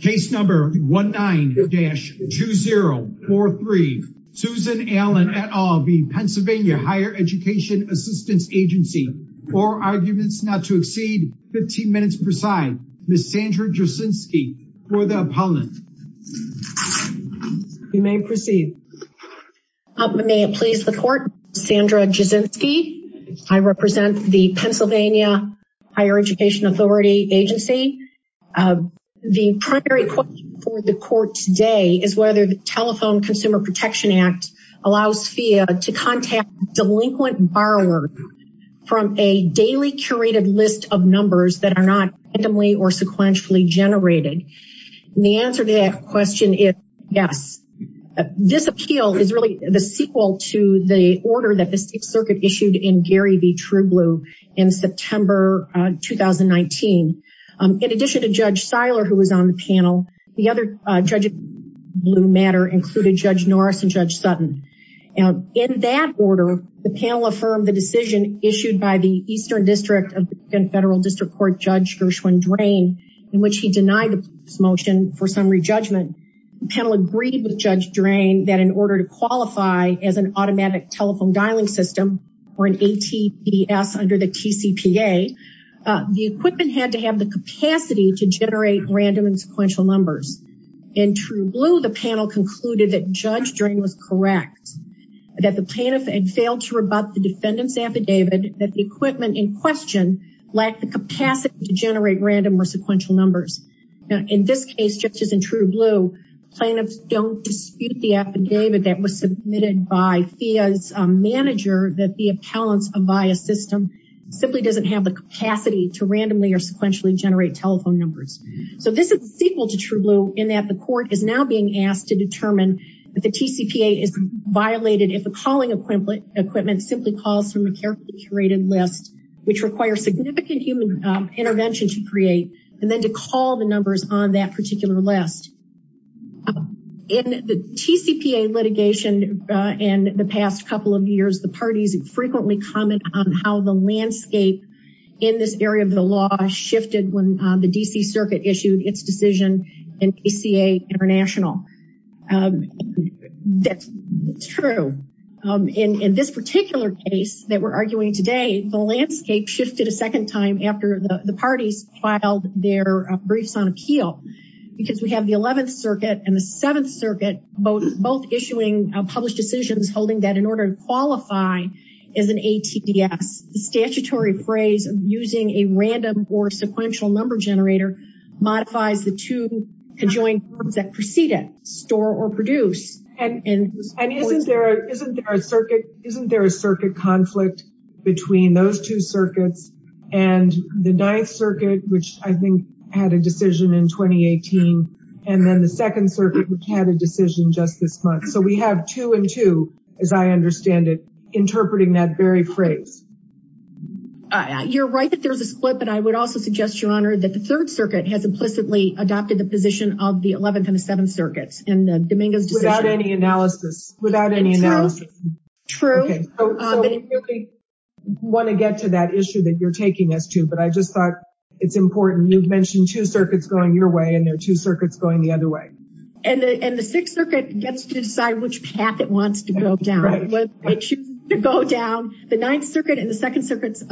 Case number 19-2043. Susan Allan et al. PA Higher Education Assistance Agency. Four arguments not to exceed 15 minutes per side. Ms. Sandra Jasinski for the opponent. You may proceed. May it please the court. Sandra Jasinski. I represent the Pennsylvania Higher Education Authority Agency. The primary question for the court today is whether the Telephone Consumer Protection Act allows FEA to contact delinquent borrowers from a daily curated list of numbers that are not randomly or sequentially generated. The answer to that question is yes. This appeal is really the sequel to the order that the State Circuit issued in Gary v. True Blue in September 2019. In addition to Judge Seiler who was on the panel, the other judges in Blue matter included Judge Norris and Judge Sutton. In that order, the panel affirmed the decision issued by the Eastern District of the Federal District Court Judge Gershwin-Drain in which he denied the motion for summary judgment. The panel agreed with Judge Drain that in order to qualify as an automatic telephone dialing system or an ATPS under the TCPA, the equipment had to have the capacity to generate random and sequential numbers. In True Blue, the panel concluded that Judge Drain was correct, that the plaintiff had failed to rebut the defendant's affidavit, that the equipment in question lacked the capacity to generate random or sequential numbers. Now in this case, just as in True Blue, plaintiffs don't dispute the affidavit that was submitted by FIA's manager that the appellant's Avaya system simply doesn't have the capacity to randomly or sequentially generate telephone numbers. So this is the sequel to True Blue in that the court is now being asked to determine if the TCPA is violated if the calling equipment equipment simply calls from a carefully curated list which requires significant human intervention to create and then to call the numbers on that particular list. In the TCPA litigation in the past couple of years, the parties frequently comment on how the landscape in this area of the law shifted when the DC Circuit issued its decision in PCA International. That's true. In this particular case that we're arguing today, the landscape shifted a second time after the parties filed their briefs on appeal because we have the 11th Circuit and the 7th Circuit both issuing published decisions holding that in order to qualify as an ATDS, the statutory phrase of using a random or sequential number generator modifies the two conjoined forms that precede it, store or produce. And isn't there a circuit conflict between those two circuits and the 9th Circuit which I think had a decision in 2018 and then the 2nd Circuit which had a decision just this month. So we have two and two as I understand it interpreting that very phrase. You're right that there's a split but I would also suggest, Your Honor, that the 3rd Circuit has implicitly adopted the position of the 11th and the 7th want to get to that issue that you're taking us to but I just thought it's important you've mentioned two circuits going your way and there are two circuits going the other way. And the 6th Circuit gets to decide which path it wants to go down, whether it chooses to go down the 9th Circuit and the 2nd Circuit's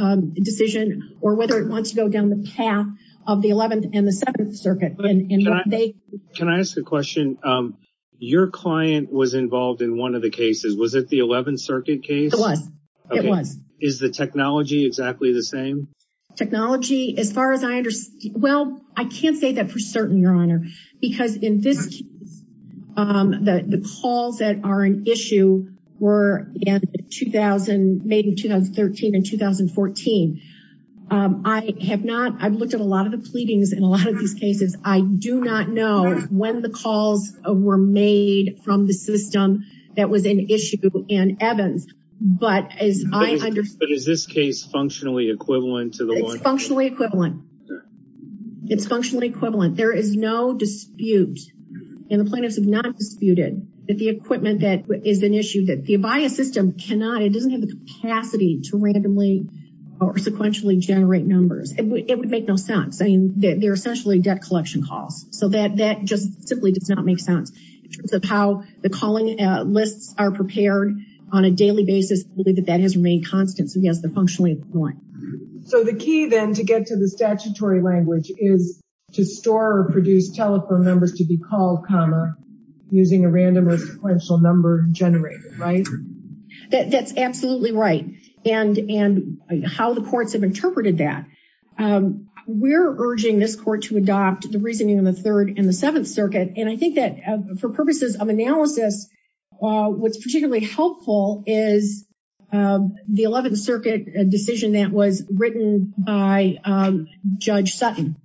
decision or whether it wants to go down the path of the 11th and the 7th Circuit. Can I ask a question? Your client was involved in one of the cases, was it the 11th Circuit case? It was, it was. Is the technology exactly the same? Technology, as far as I understand, well I can't say that for certain, Your Honor, because in this case the calls that are an issue were made in 2013 and 2014. I have not, I've looked at a lot of the pleadings in a lot of these cases, I do not know when the and Evans, but as I understand. But is this case functionally equivalent to the one? It's functionally equivalent. It's functionally equivalent. There is no dispute and the plaintiffs have not disputed that the equipment that is an issue that the ABIAS system cannot, it doesn't have the capacity to randomly or sequentially generate numbers. It would make no sense. I mean they're essentially debt collection calls so that just simply does not make sense. In terms of how the calling lists are prepared on a daily basis, I believe that that has remained constant. So yes, they're functionally equivalent. So the key then to get to the statutory language is to store or produce telephone numbers to be called, comma, using a random or sequential number generated, right? That's absolutely right. And how the courts have interpreted that. We're urging this court to adopt the reasoning in the 3rd and the 7th and I think that for purposes of analysis, what's particularly helpful is the 11th Circuit decision that was written by Judge Sutton.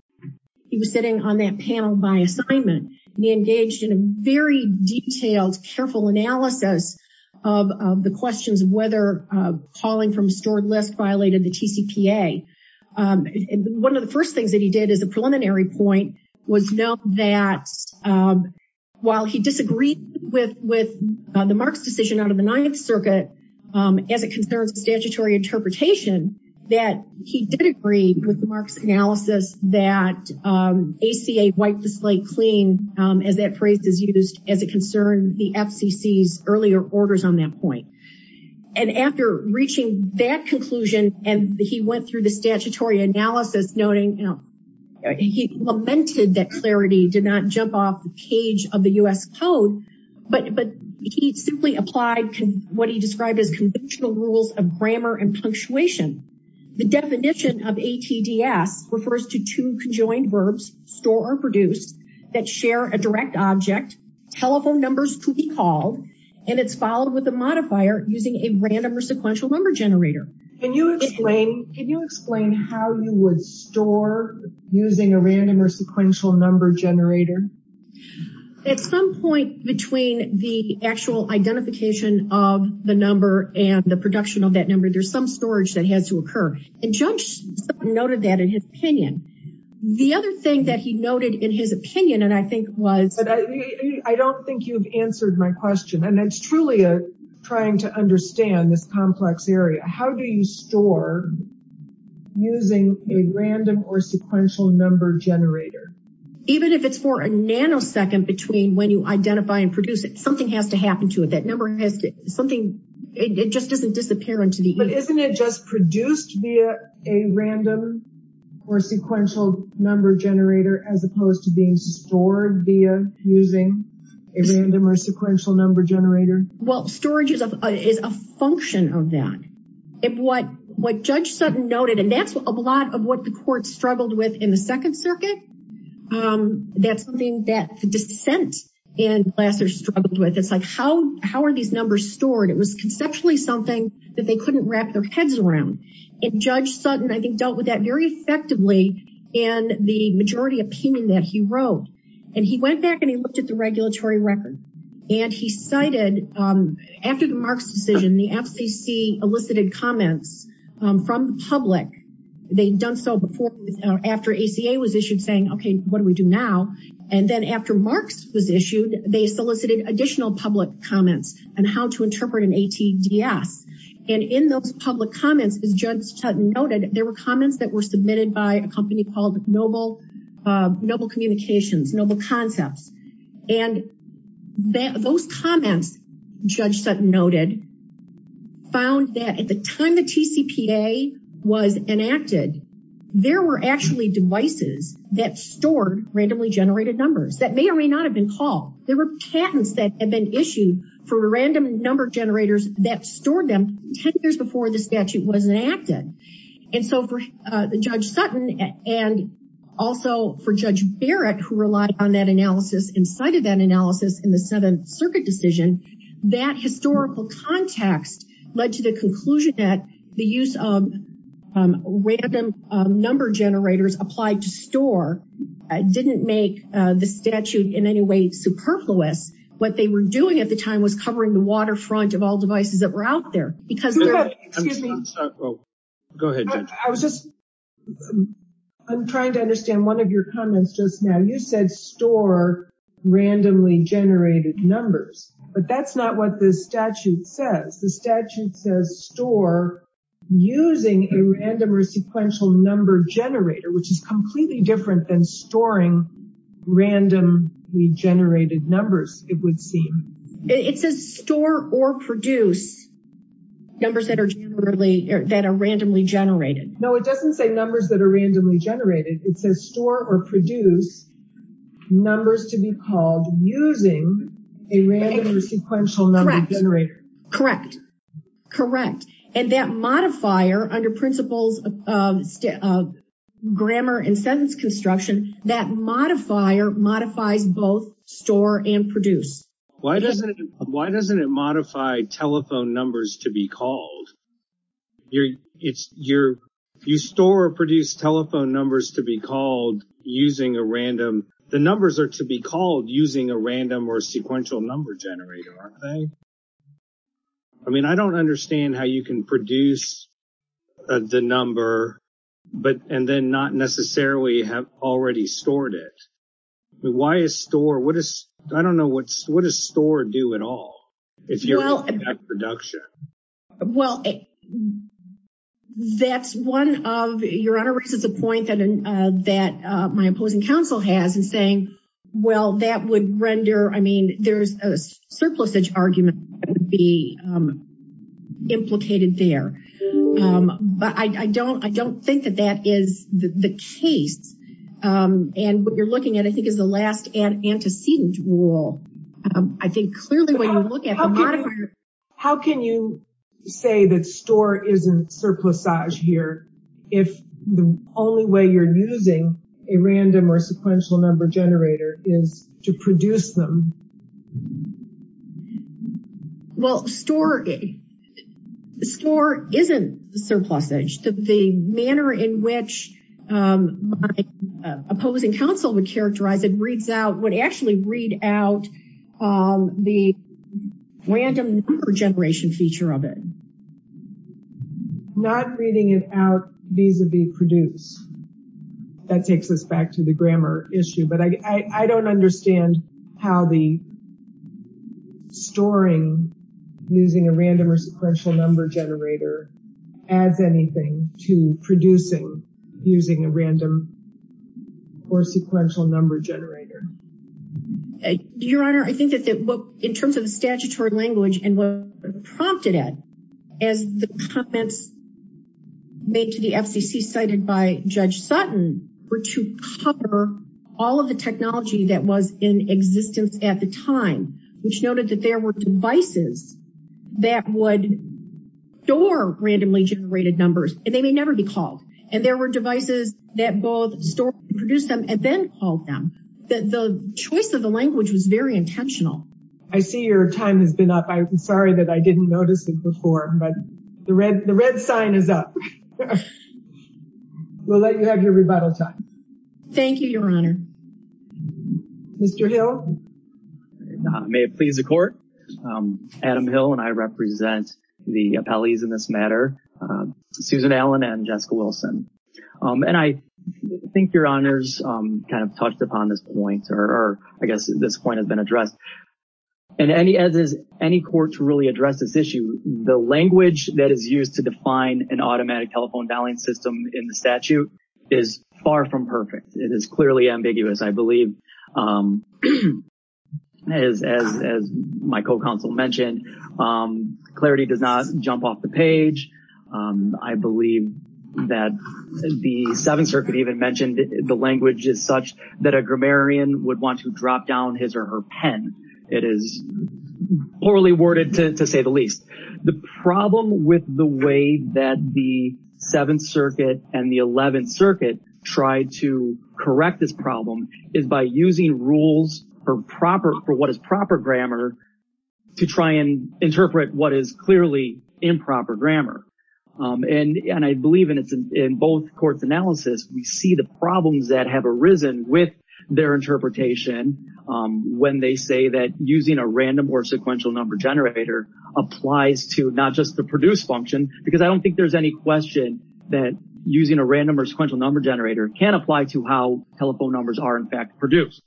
He was sitting on that panel by assignment. He engaged in a very detailed, careful analysis of the questions of whether calling from a stored list violated the TCPA. One of the first things that he did as a preliminary point was know that while he disagreed with the Marx decision out of the 9th Circuit as it concerns statutory interpretation, that he did agree with the Marx analysis that ACA wiped the slate clean, as that phrase is used, as it concerned the FCC's earlier orders on that point. And after reaching that conclusion and he went through the statutory analysis noting, he lamented that clarity did not jump off the cage of the U.S. code, but he simply applied what he described as conventional rules of grammar and punctuation. The definition of ATDS refers to two conjoined verbs, store or produce, that share a direct object, telephone numbers to be called, and it's followed with a modifier using a random or sequential number generator. Can you explain how you would store using a random or sequential number generator? At some point between the actual identification of the number and the production of that number, there's some storage that has to occur. And Judge Sutton noted that in his opinion. The other thing that he noted in his opinion, and I think was... I don't think you've answered my question, and it's truly trying to understand this complex area. How do you store using a random or sequential number generator? Even if it's for a nanosecond between when you identify and produce it, something has to happen to it. That number has to, something, it just doesn't disappear into the... But isn't it just produced via a random or sequential number generator as opposed to being stored via using a random or sequential number generator? Well, storage is a function of that. What Judge Sutton noted, and that's a lot of what the court struggled with in the Second Circuit. That's something that the dissent in Glasser struggled with. It's like, how are these numbers stored? It was conceptually something that they couldn't wrap their heads around. And Judge Sutton, I think, dealt with that very effectively in the majority opinion that he wrote. And he went back and he looked at the regulatory record. And he cited, after the Marx decision, the FCC elicited comments from the public. They'd done so before, after ACA was issued, saying, okay, what do we do now? And then after Marx was issued, they solicited additional public comments on how to interpret an ATDS. And in those public comments, as Judge Sutton noted, there were comments that were submitted by a company called Noble Communications, Noble Concepts. And those comments, Judge Sutton noted, found that at the time the TCPA was enacted, there were actually devices that stored randomly generated numbers that may or may not have been called. There were patents that had been issued for random number generators that stored them 10 years before the statute was enacted. And so for Judge Sutton, and also for Judge Barrett, who relied on that analysis and cited that analysis in the Seventh Circuit decision, that historical context led to the conclusion that the use of random number generators applied to store didn't make the statute in any way superfluous. What they were doing at the time was covering the waterfront of all devices that were out there. I'm trying to understand one of your comments just now. You said store randomly generated numbers, but that's not what the statute says. The statute says store using a random or sequential number generator, which is completely different than storing randomly generated numbers, it would seem. It says store or produce numbers that are randomly generated. No, it doesn't say numbers that are randomly generated. It says store or produce numbers to be called using a random or sequential number generator. Correct. And that modifier modifies both store and produce. Why doesn't it modify telephone numbers to be called? You store or produce telephone numbers to be called using a random, the numbers are to be called using a random or sequential number generator, aren't they? I mean, I don't understand how you can produce the number and then not necessarily have already stored it. Why is store, I don't know, what does store do at all if you're looking at production? Well, that's one of, your honor raises a point that my opposing counsel has in saying, well, that would render, I mean, there's a surplusage argument that would be implicated there. But I don't, I don't think that that is the case. And what you're looking at, I think is the last antecedent rule. I think clearly when you look at the modifier. How can you say that store isn't surplusage here, if the only way you're using a random or sequential number generator is to produce them? Well, store, store isn't surplusage. The manner in which my opposing counsel would characterize it reads out, would actually read out the random number generation feature of it. Not reading it out vis-a-vis produce. That takes us back to the grammar issue, but I don't understand how the storing using a random or sequential number generator adds anything to producing using a random or sequential number generator. Your honor, I think that in terms of the statutory language and what prompted it, as the comments made to the FCC cited by Judge Sutton were to cover all of the technology that was in existence at the time, which noted that there were devices that would store randomly generated numbers and they may never be called. And there were devices that both store and produce them and then called them. The choice of the language was very intentional. I see your time has been up. I'm sorry that I didn't notice it before, but the red sign is up. We'll let you have your rebuttal time. Thank you, your honor. Mr. Hill. May it please the court. Adam Hill and I represent the appellees in this matter, Susan Allen and Jessica Wilson. And I think your honors kind of touched upon this point or I guess this point has been addressed. And as any court to really address this issue, the language that is used to define an automatic telephone dialing system in the statute is far from perfect. It is clearly ambiguous, I believe. As my co-counsel mentioned, clarity does not jump off the page. I believe that the Seventh Circuit even mentioned the language is such that a grammarian would want to drop down his or her pen. It is poorly worded to say the least. The problem with the way that the Seventh Circuit and the Eleventh Circuit tried to correct this problem is by using rules for what is proper grammar to try and interpret what is clearly improper grammar. And I believe in both courts' analysis, we see the problems that have arisen with their interpretation when they say that using a random or sequential number generator applies to not just the produce function because I don't think there's any question that using a random or sequential number generator can apply to how telephone numbers are in fact produced.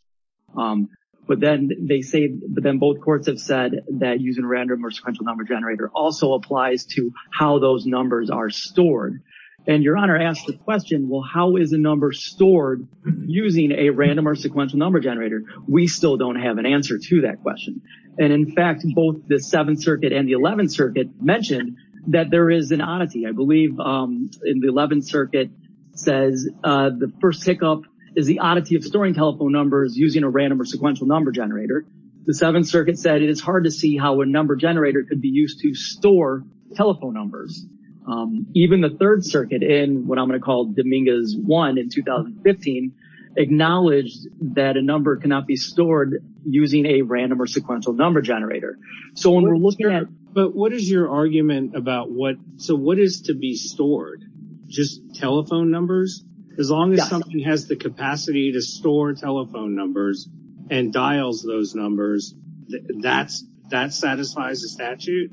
But then they say, but then both courts have said that using random or sequential number generator also applies to how those numbers are stored. And Your Honor asked the question, well, how is a number stored using a random or sequential number generator? We still don't have an answer to that question. And in fact, both the Seventh Circuit and the Eleventh Circuit mentioned that there is an oddity. I believe in the Eleventh Circuit says the first hiccup is the oddity of storing telephone numbers using a random or sequential number generator. The Seventh Circuit said it is hard to see how a number generator could be used to store telephone numbers. Even the Third Circuit in what I'm going to call Dominguez 1 in 2015 acknowledged that a number cannot be stored using a random or sequential number generator. So when we're looking at... But what is your argument about what, so what is to be stored? Just telephone numbers? As long as something has the capacity to store telephone numbers and dials those numbers, that satisfies the statute?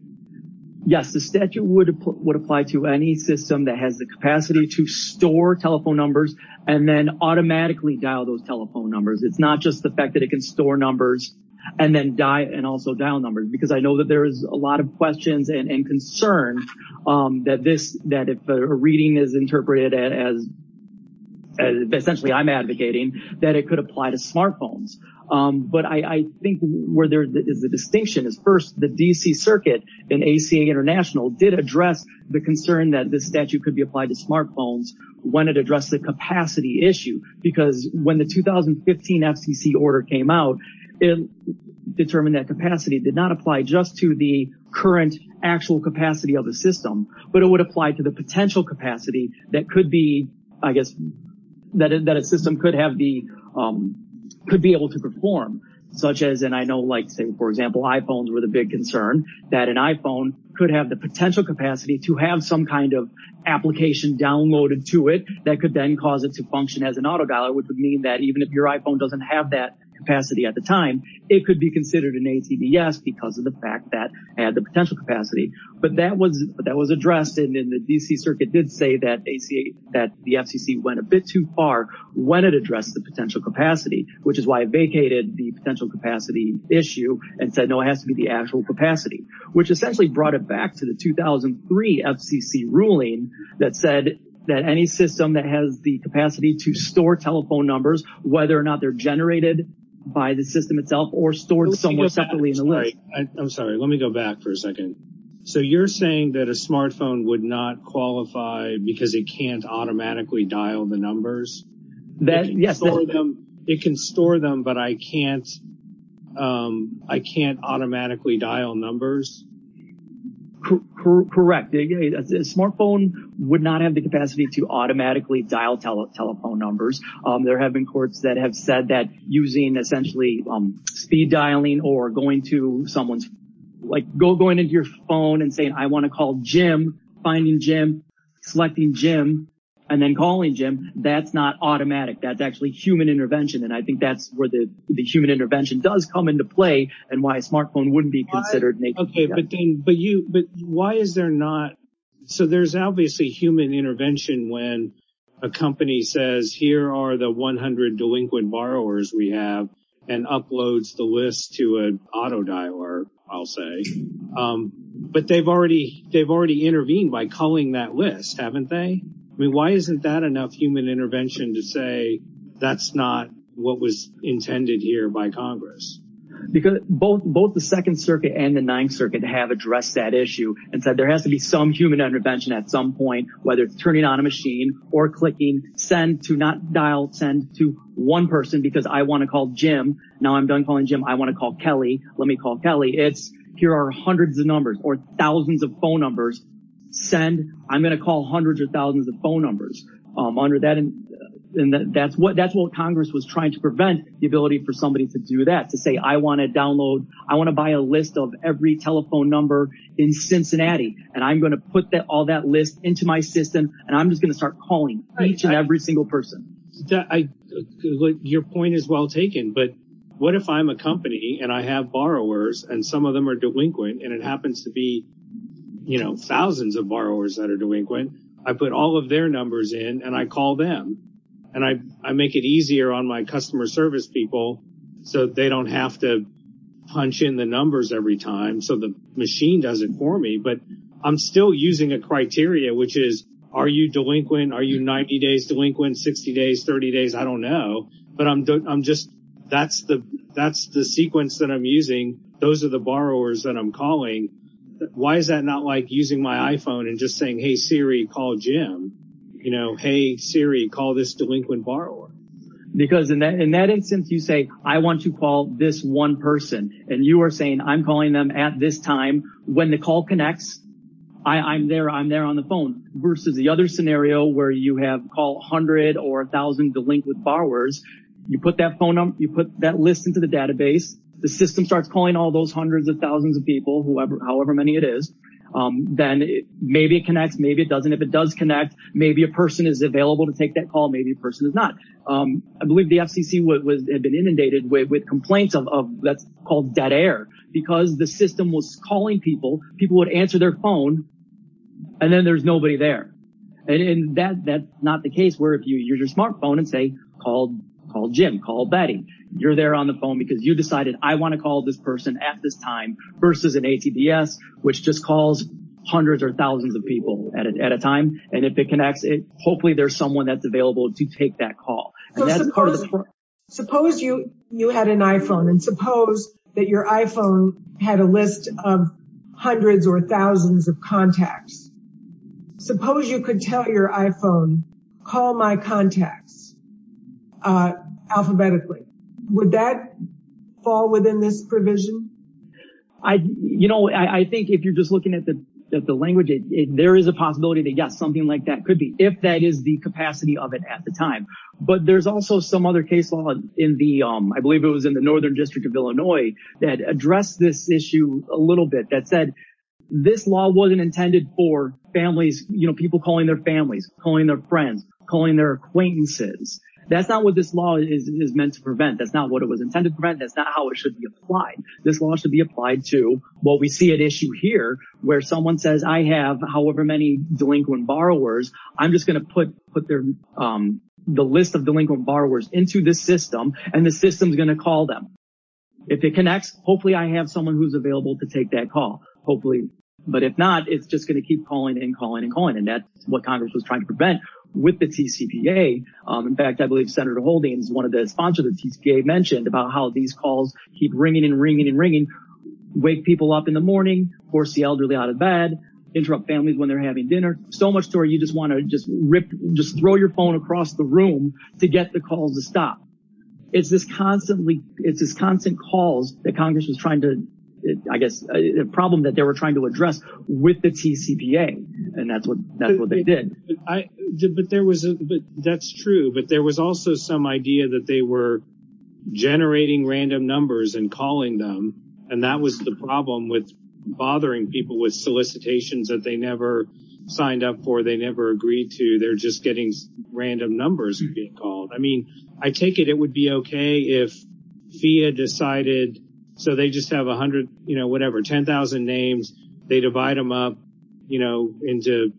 Yes, the statute would apply to any system that has the capacity to store telephone numbers and then automatically dial those telephone numbers. It's not just the fact that it can store numbers and then dial numbers. Because I know that there is a lot of questions and concern that if a reading is But I think where there is a distinction is first the D.C. Circuit and ACA International did address the concern that this statute could be applied to smartphones when it addressed the capacity issue. Because when the 2015 FCC order came out, it determined that capacity did not apply just to the current actual capacity of the system, but it would apply to the potential capacity that could be, I guess, that a system could have the, could be able to perform. Such as, and I know like say for example iPhones were the big concern, that an iPhone could have the potential capacity to have some kind of application downloaded to it that could then cause it to function as an auto dialer which would mean that even if your iPhone doesn't have that capacity at the time, it could be considered an ATVS because of the fact that it had the potential capacity. But that was that was the FCC went a bit too far when it addressed the potential capacity, which is why it vacated the potential capacity issue and said, no, it has to be the actual capacity. Which essentially brought it back to the 2003 FCC ruling that said that any system that has the capacity to store telephone numbers, whether or not they're generated by the system itself or stored somewhere separately in the list. I'm sorry, let me go back for a second. So you're saying that a smartphone would not qualify because it can't automatically dial the numbers? That yes, it can store them but I can't I can't automatically dial numbers? Correct, a smartphone would not have the capacity to automatically dial telephone numbers. There have been courts that have said that using essentially speed dialing or going to someone's like go going into your phone and saying I want to call Jim, finding Jim, selecting Jim, and then calling Jim, that's not automatic, that's actually human intervention. And I think that's where the human intervention does come into play and why a smartphone wouldn't be considered. Okay, but then but you but why is there not so there's obviously human intervention when a company says here are the 100 delinquent borrowers we have and uploads the list to an auto dialer, I'll say. But they've already intervened by calling that list, haven't they? I mean, why isn't that enough human intervention to say that's not what was intended here by Congress? Because both the Second Circuit and the Ninth Circuit have addressed that issue and said there has to be some human intervention at some point, whether it's turning on a machine or clicking send to not dial send to one person because I want to call Jim, now I'm done calling Jim, I want to call Kelly, let me call Kelly. It's here are hundreds of numbers or thousands of phone numbers, send, I'm going to call hundreds or thousands of phone numbers under that and that's what that's what Congress was trying to prevent the ability for somebody to do that, to say I want to download, I want to buy a list of every telephone number in Cincinnati and I'm going to put that all that list into my system and I'm just going to start calling each and every single person. Your point is well taken, but what if I'm a company and I have borrowers and some of them are delinquent and it happens to be thousands of borrowers that are delinquent, I put all of their numbers in and I call them and I make it easier on my customer service people so they don't have to punch in the numbers every time so the machine does it for me, but I'm still 60 days, 30 days, I don't know, but I'm just that's the that's the sequence that I'm using, those are the borrowers that I'm calling, why is that not like using my iPhone and just saying, hey Siri call Jim, you know, hey Siri call this delinquent borrower. Because in that instance you say I want to call this one person and you are saying I'm calling them at this time when the call connects, I'm there, I'm there on the phone versus the other scenario where you have call or a thousand delinquent borrowers, you put that phone up, you put that list into the database, the system starts calling all those hundreds of thousands of people, however many it is, then maybe it connects, maybe it doesn't, if it does connect, maybe a person is available to take that call, maybe a person is not. I believe the FCC had been inundated with complaints of that's called dead air because the system was calling people, people would answer their phone and then there's nobody there and that that's not the case where if you use your smartphone and say call call Jim, call Betty, you're there on the phone because you decided I want to call this person at this time versus an ATDS which just calls hundreds or thousands of people at a time and if it connects it hopefully there's someone that's available to take that call. Suppose you you had an iPhone and suppose that your iPhone had a list of hundreds or thousands of contacts, suppose you could tell your iPhone call my contacts alphabetically, would that fall within this provision? I think if you're just looking at the language, there is a possibility that yes something like that could be if that is the capacity of it at the time but there's also some other case law in the I believe it was in the northern district of for families, people calling their families, calling their friends, calling their acquaintances. That's not what this law is meant to prevent, that's not what it was intended to prevent, that's not how it should be applied. This law should be applied to what we see at issue here where someone says I have however many delinquent borrowers, I'm just going to put the list of delinquent borrowers into this system and the system is going to call them. If it connects hopefully I have someone who's available to take that call hopefully but if not it's just going to keep calling and calling and calling and that's what Congress was trying to prevent with the TCPA. In fact I believe Senator Holdings, one of the sponsors of the TCPA mentioned about how these calls keep ringing and ringing and ringing, wake people up in the morning, force the elderly out of bed, interrupt families when they're having dinner, so much story you just want to just rip just throw your phone across the room to get the calls to stop. It's this constantly it's Congress was trying to I guess a problem that they were trying to address with the TCPA and that's what that's what they did. But there was a but that's true but there was also some idea that they were generating random numbers and calling them and that was the problem with bothering people with solicitations that they never signed up for, they never agreed to, they're just getting random numbers. I mean I take it it would be okay if FIA decided so they just have a hundred you know whatever ten thousand names they divide them up you know into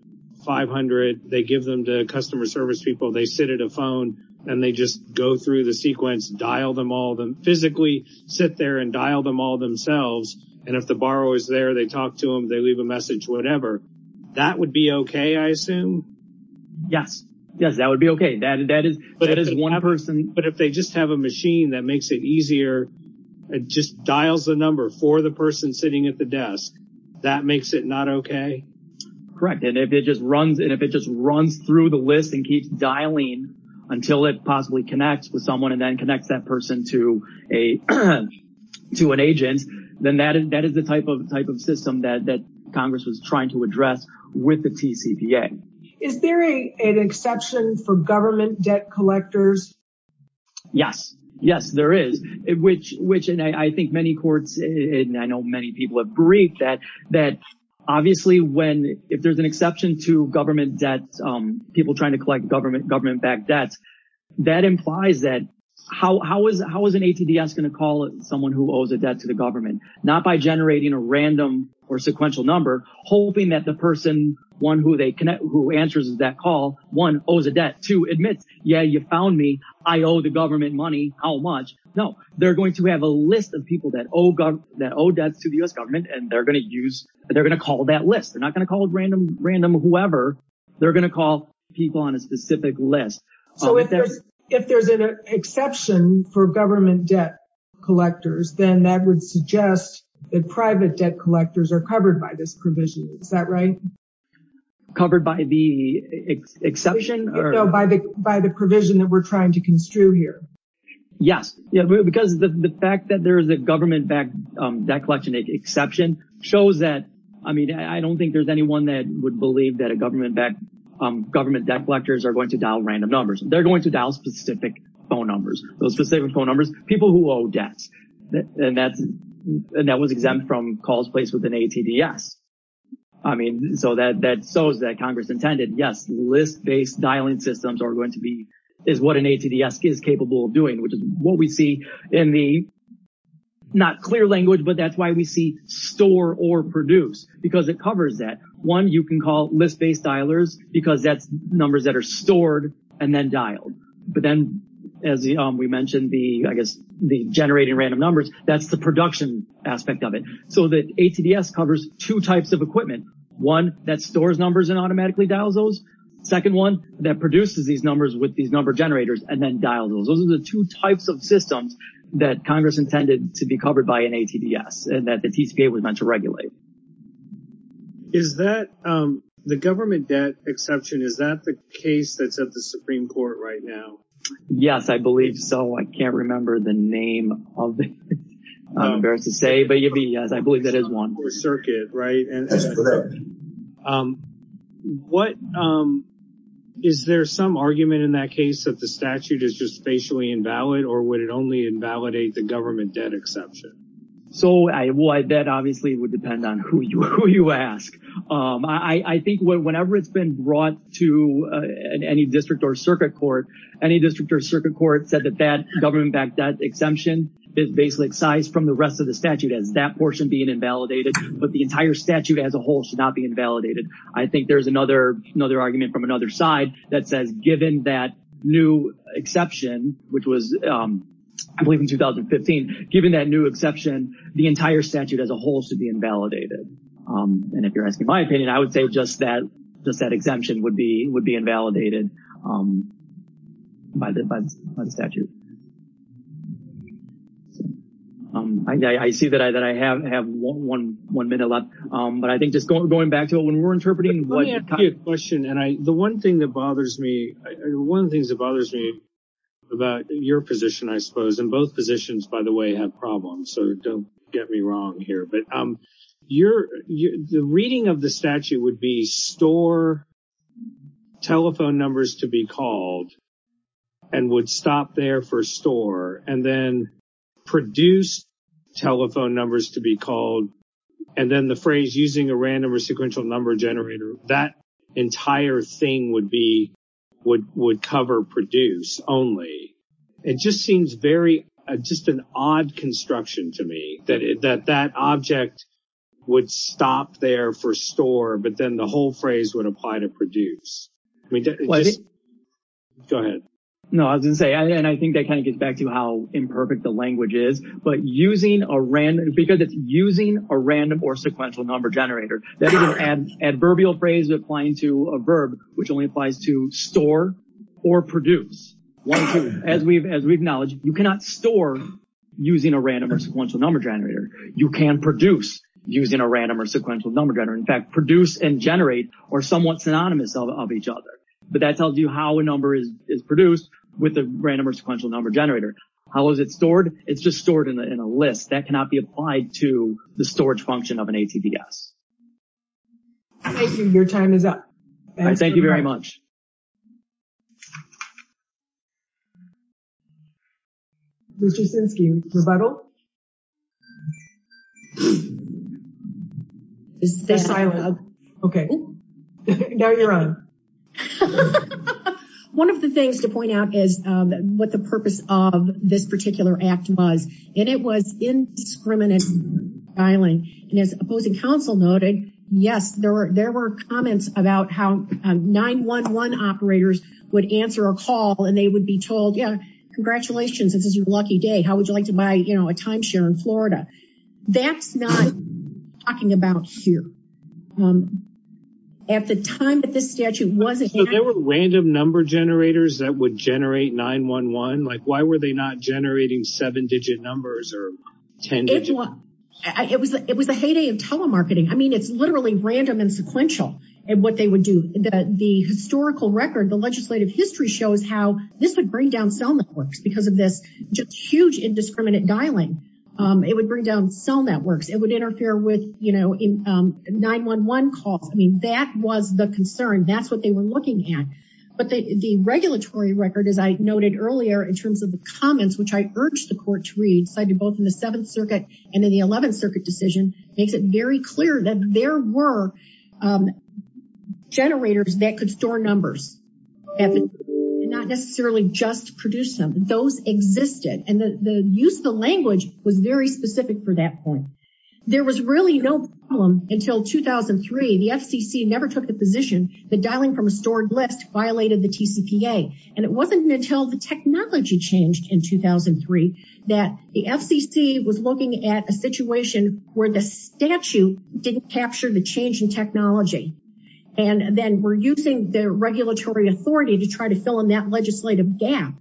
500 they give them to customer service people they sit at a phone and they just go through the sequence dial them all them physically sit there and dial them all themselves and if the borrower is there they talk to them they leave a message whatever that would be okay I assume yes yes that would be okay that that is that is one person but if they just have a machine that makes it easier it just dials the number for the person sitting at the desk that makes it not okay correct and if it just runs and if it just runs through the list and keeps dialing until it possibly connects with someone and then connects that person to a to an agent then that is that is the type of type of system that that congress was trying to address with the TCPA. Is there a an exception for government debt collectors? Yes yes there is which which and I think many courts and I know many people have briefed that that obviously when if there's an exception to government debt people trying to collect government government-backed debts that implies that how is how is an ATDS going to call someone who owes a debt to the government not by generating a random or sequential number hoping that the person one who they connect who answers that call one owes a debt two admits yeah you found me I owe the government money how much no they're going to have a list of people that owe that owe debts to the U.S. government and they're going to use they're going to call that list they're not going to call it random random whoever they're going to people on a specific list so if there's if there's an exception for government debt collectors then that would suggest that private debt collectors are covered by this provision is that right covered by the exception or no by the by the provision that we're trying to construe here yes yeah because the the fact that there is a government-backed debt collection exception shows that I mean I don't think there's anyone that would believe that a government-backed government debt collectors are going to dial random numbers they're going to dial specific phone numbers those specific phone numbers people who owe debts and that's and that was exempt from calls placed with an ATDS I mean so that that shows that Congress intended yes list-based dialing systems are going to be is what an ATDS is capable of doing which is what we see in the not clear language but that's why we see store or produce because it covers that one you can call list-based dialers because that's numbers that are stored and then dialed but then as we mentioned the I guess the generating random numbers that's the production aspect of it so that ATDS covers two types of equipment one that stores numbers and automatically dials those second one that produces these numbers with these number generators and then dial those those are the two types of systems that Congress intended to be covered by an ATDS and that the TCPA was meant to regulate is that the government debt exception is that the case that's at the Supreme Court right now yes I believe so I can't remember the name of it I'm embarrassed to say but you'd be yes I believe that is one or circuit right and as for that what is there some argument in that case that the statute is just spatially invalid or would it only invalidate the government debt exception so I why that obviously would depend on who you who you ask I think whenever it's been brought to any district or circuit court any district or circuit court said that that government back that exemption is basically excised from the rest of the statute as that portion being invalidated but the entire statute as a whole should not be invalidated I think there's another another argument from another side that says given that new exception which was I believe in 2015 given that new exception the entire statute as a whole should be invalidated and if you're asking my opinion I would say just that just that exemption would be would be invalidated by the by the statute I see that I that I have have one one one minute left but I think just going back to it when we're interpreting what question and I the one thing that bothers me one of the things that bothers me about your position I suppose and both positions by the way have problems so don't get me wrong here but um you're you the reading of the statute would be store telephone numbers to be called and would stop there for store and then produce telephone numbers to be called and then the phrase using a random or sequential number generator that entire thing would be would would cover produce only it just seems very just an odd construction to me that that that object would stop there for store but then the whole phrase would apply to produce I mean go ahead no I was gonna say and I think that kind of gets back to how imperfect the language is but using a random because it's using a random or sequential number generator that is an adverbial phrase applying to a verb which only applies to store or produce as we've as we've acknowledged you cannot store using a random or sequential number generator you can produce using a random or sequential number generator in fact produce and generate or somewhat synonymous of each other but that tells you how a number is is produced with a random or sequential number generator how is it stored it's just stored in a list that cannot be applied to the storage function of an ATVS. Thank you, your time is up. Thank you very much. Mr. Sinskey, rebuttal? Okay, now you're on. One of the things to point out is what the purpose of this particular act was and it was indiscriminate filing and as opposing counsel noted yes there were there were comments about how 9-1-1 operators would answer a call and they would be told yeah congratulations this is your lucky day how would you like to buy you know a timeshare in Florida that's not talking about here. At the time that this statute wasn't there were random number generators that would generate 9-1-1 like why were they not generating seven digit numbers or 10? It was a heyday of telemarketing I mean it's literally random and sequential and what they would do the historical record the legislative history shows how this would bring down cell networks because of this just huge indiscriminate dialing it would bring down cell networks it would interfere with you know in 9-1-1 calls I mean that was the concern that's what they were looking at but the regulatory record as I noted earlier in terms of the comments which I urged the court to read cited both in the 7th circuit and in the 11th circuit decision makes it very clear that there were generators that could store numbers and not necessarily just produce them those existed and the use of the language was very specific for that point. There was really no problem until 2003 the FCC never took the position dialing from a stored list violated the TCPA and it wasn't until the technology changed in 2003 that the FCC was looking at a situation where the statute didn't capture the change in technology and then we're using the regulatory authority to try to fill in that legislative gap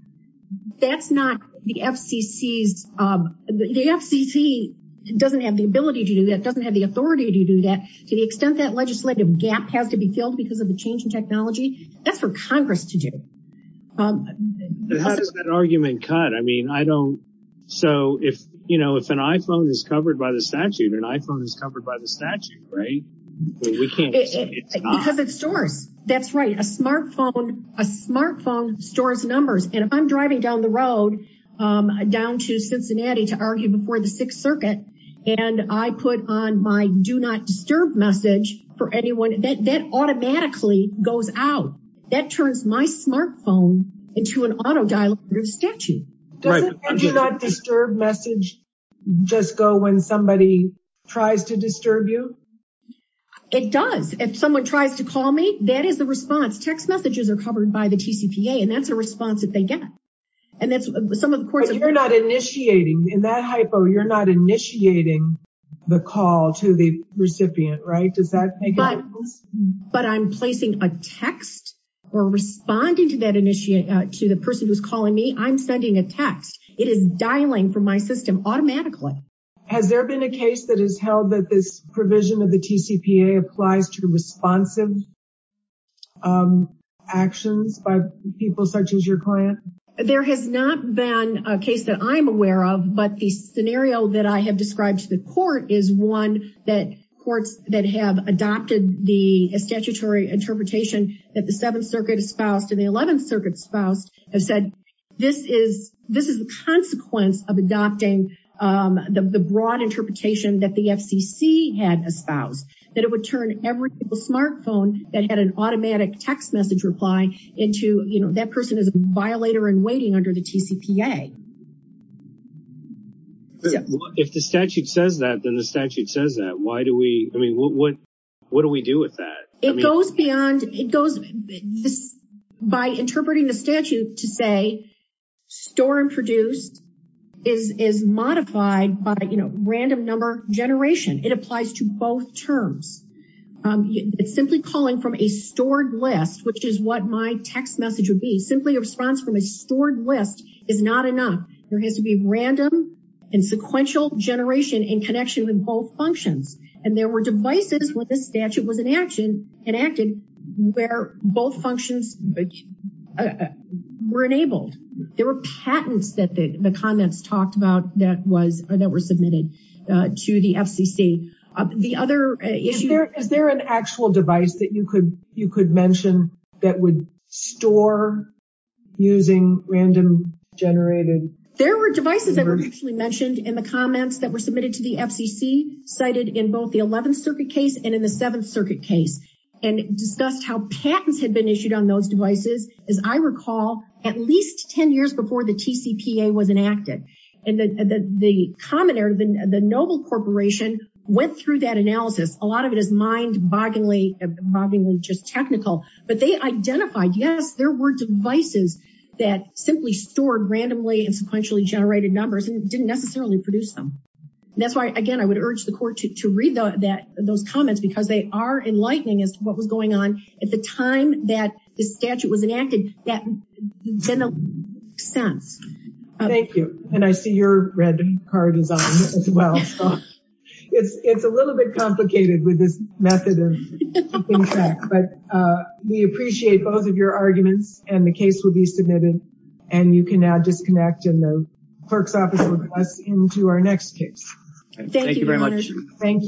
that's not the FCC's the FCC doesn't have the ability to do that doesn't have the authority to do that to the extent that legislative gap has to be filled because of the change in technology that's for Congress to do. How does that argument cut I mean I don't so if you know if an iPhone is covered by the statute an iPhone is covered by the statute right? Because it stores that's right a smartphone a smartphone stores numbers and if I'm driving down the road down to Cincinnati to argue before the sixth circuit and I put on my do not disturb message for anyone that that automatically goes out that turns my smartphone into an auto dialer under the statute. Does the do not disturb message just go when somebody tries to disturb you? It does if someone tries to call me that is the response text messages are covered by the TCPA and that's a response that they get and that's some of the courts. You're not initiating in that hypo you're not initiating the call to the recipient right? Does that make sense? But I'm placing a text or responding to that initiate to the person who's calling me I'm sending a text it is dialing from my system automatically. Has there been a case that is held that this provision of the TCPA applies to responsive actions by people such as your client? There has not been a case that I'm aware of but the scenario that I have described to the court is one that courts that have adopted the statutory interpretation that the 7th circuit espoused and the 11th circuit espoused have said this is this is the consequence of adopting the broad interpretation that the FCC had espoused that it would turn every smart phone that had an automatic text message reply into you know that person is a violator and waiting under the TCPA. If the statute says that then the statute says that why do we I mean what what do we do with that? It goes beyond it goes this by interpreting the statute to say store and produced is is um it's simply calling from a stored list which is what my text message would be simply a response from a stored list is not enough. There has to be random and sequential generation in connection with both functions and there were devices when this statute was in action and acted where both functions were enabled. There were patents that the comments talked about that was that were is there an actual device that you could you could mention that would store using random generated? There were devices that were actually mentioned in the comments that were submitted to the FCC cited in both the 11th circuit case and in the 7th circuit case and discussed how patents had been issued on those devices as I recall at least 10 years before the TCPA was enacted and the the commoner the the noble corporation went through that analysis a lot of it is mind bogglingly bogglingly just technical but they identified yes there were devices that simply stored randomly and sequentially generated numbers and didn't necessarily produce them. That's why again I would urge the court to read that those comments because they are enlightening as to what was going on at the time that the statute was enacted that in a sense. Thank you and I see your red card is on as well so it's it's a little bit complicated with this method of keeping track but we appreciate both of your arguments and the case will be submitted and you can now disconnect in the clerk's office with us into our next case. Thank you very much. Thank you.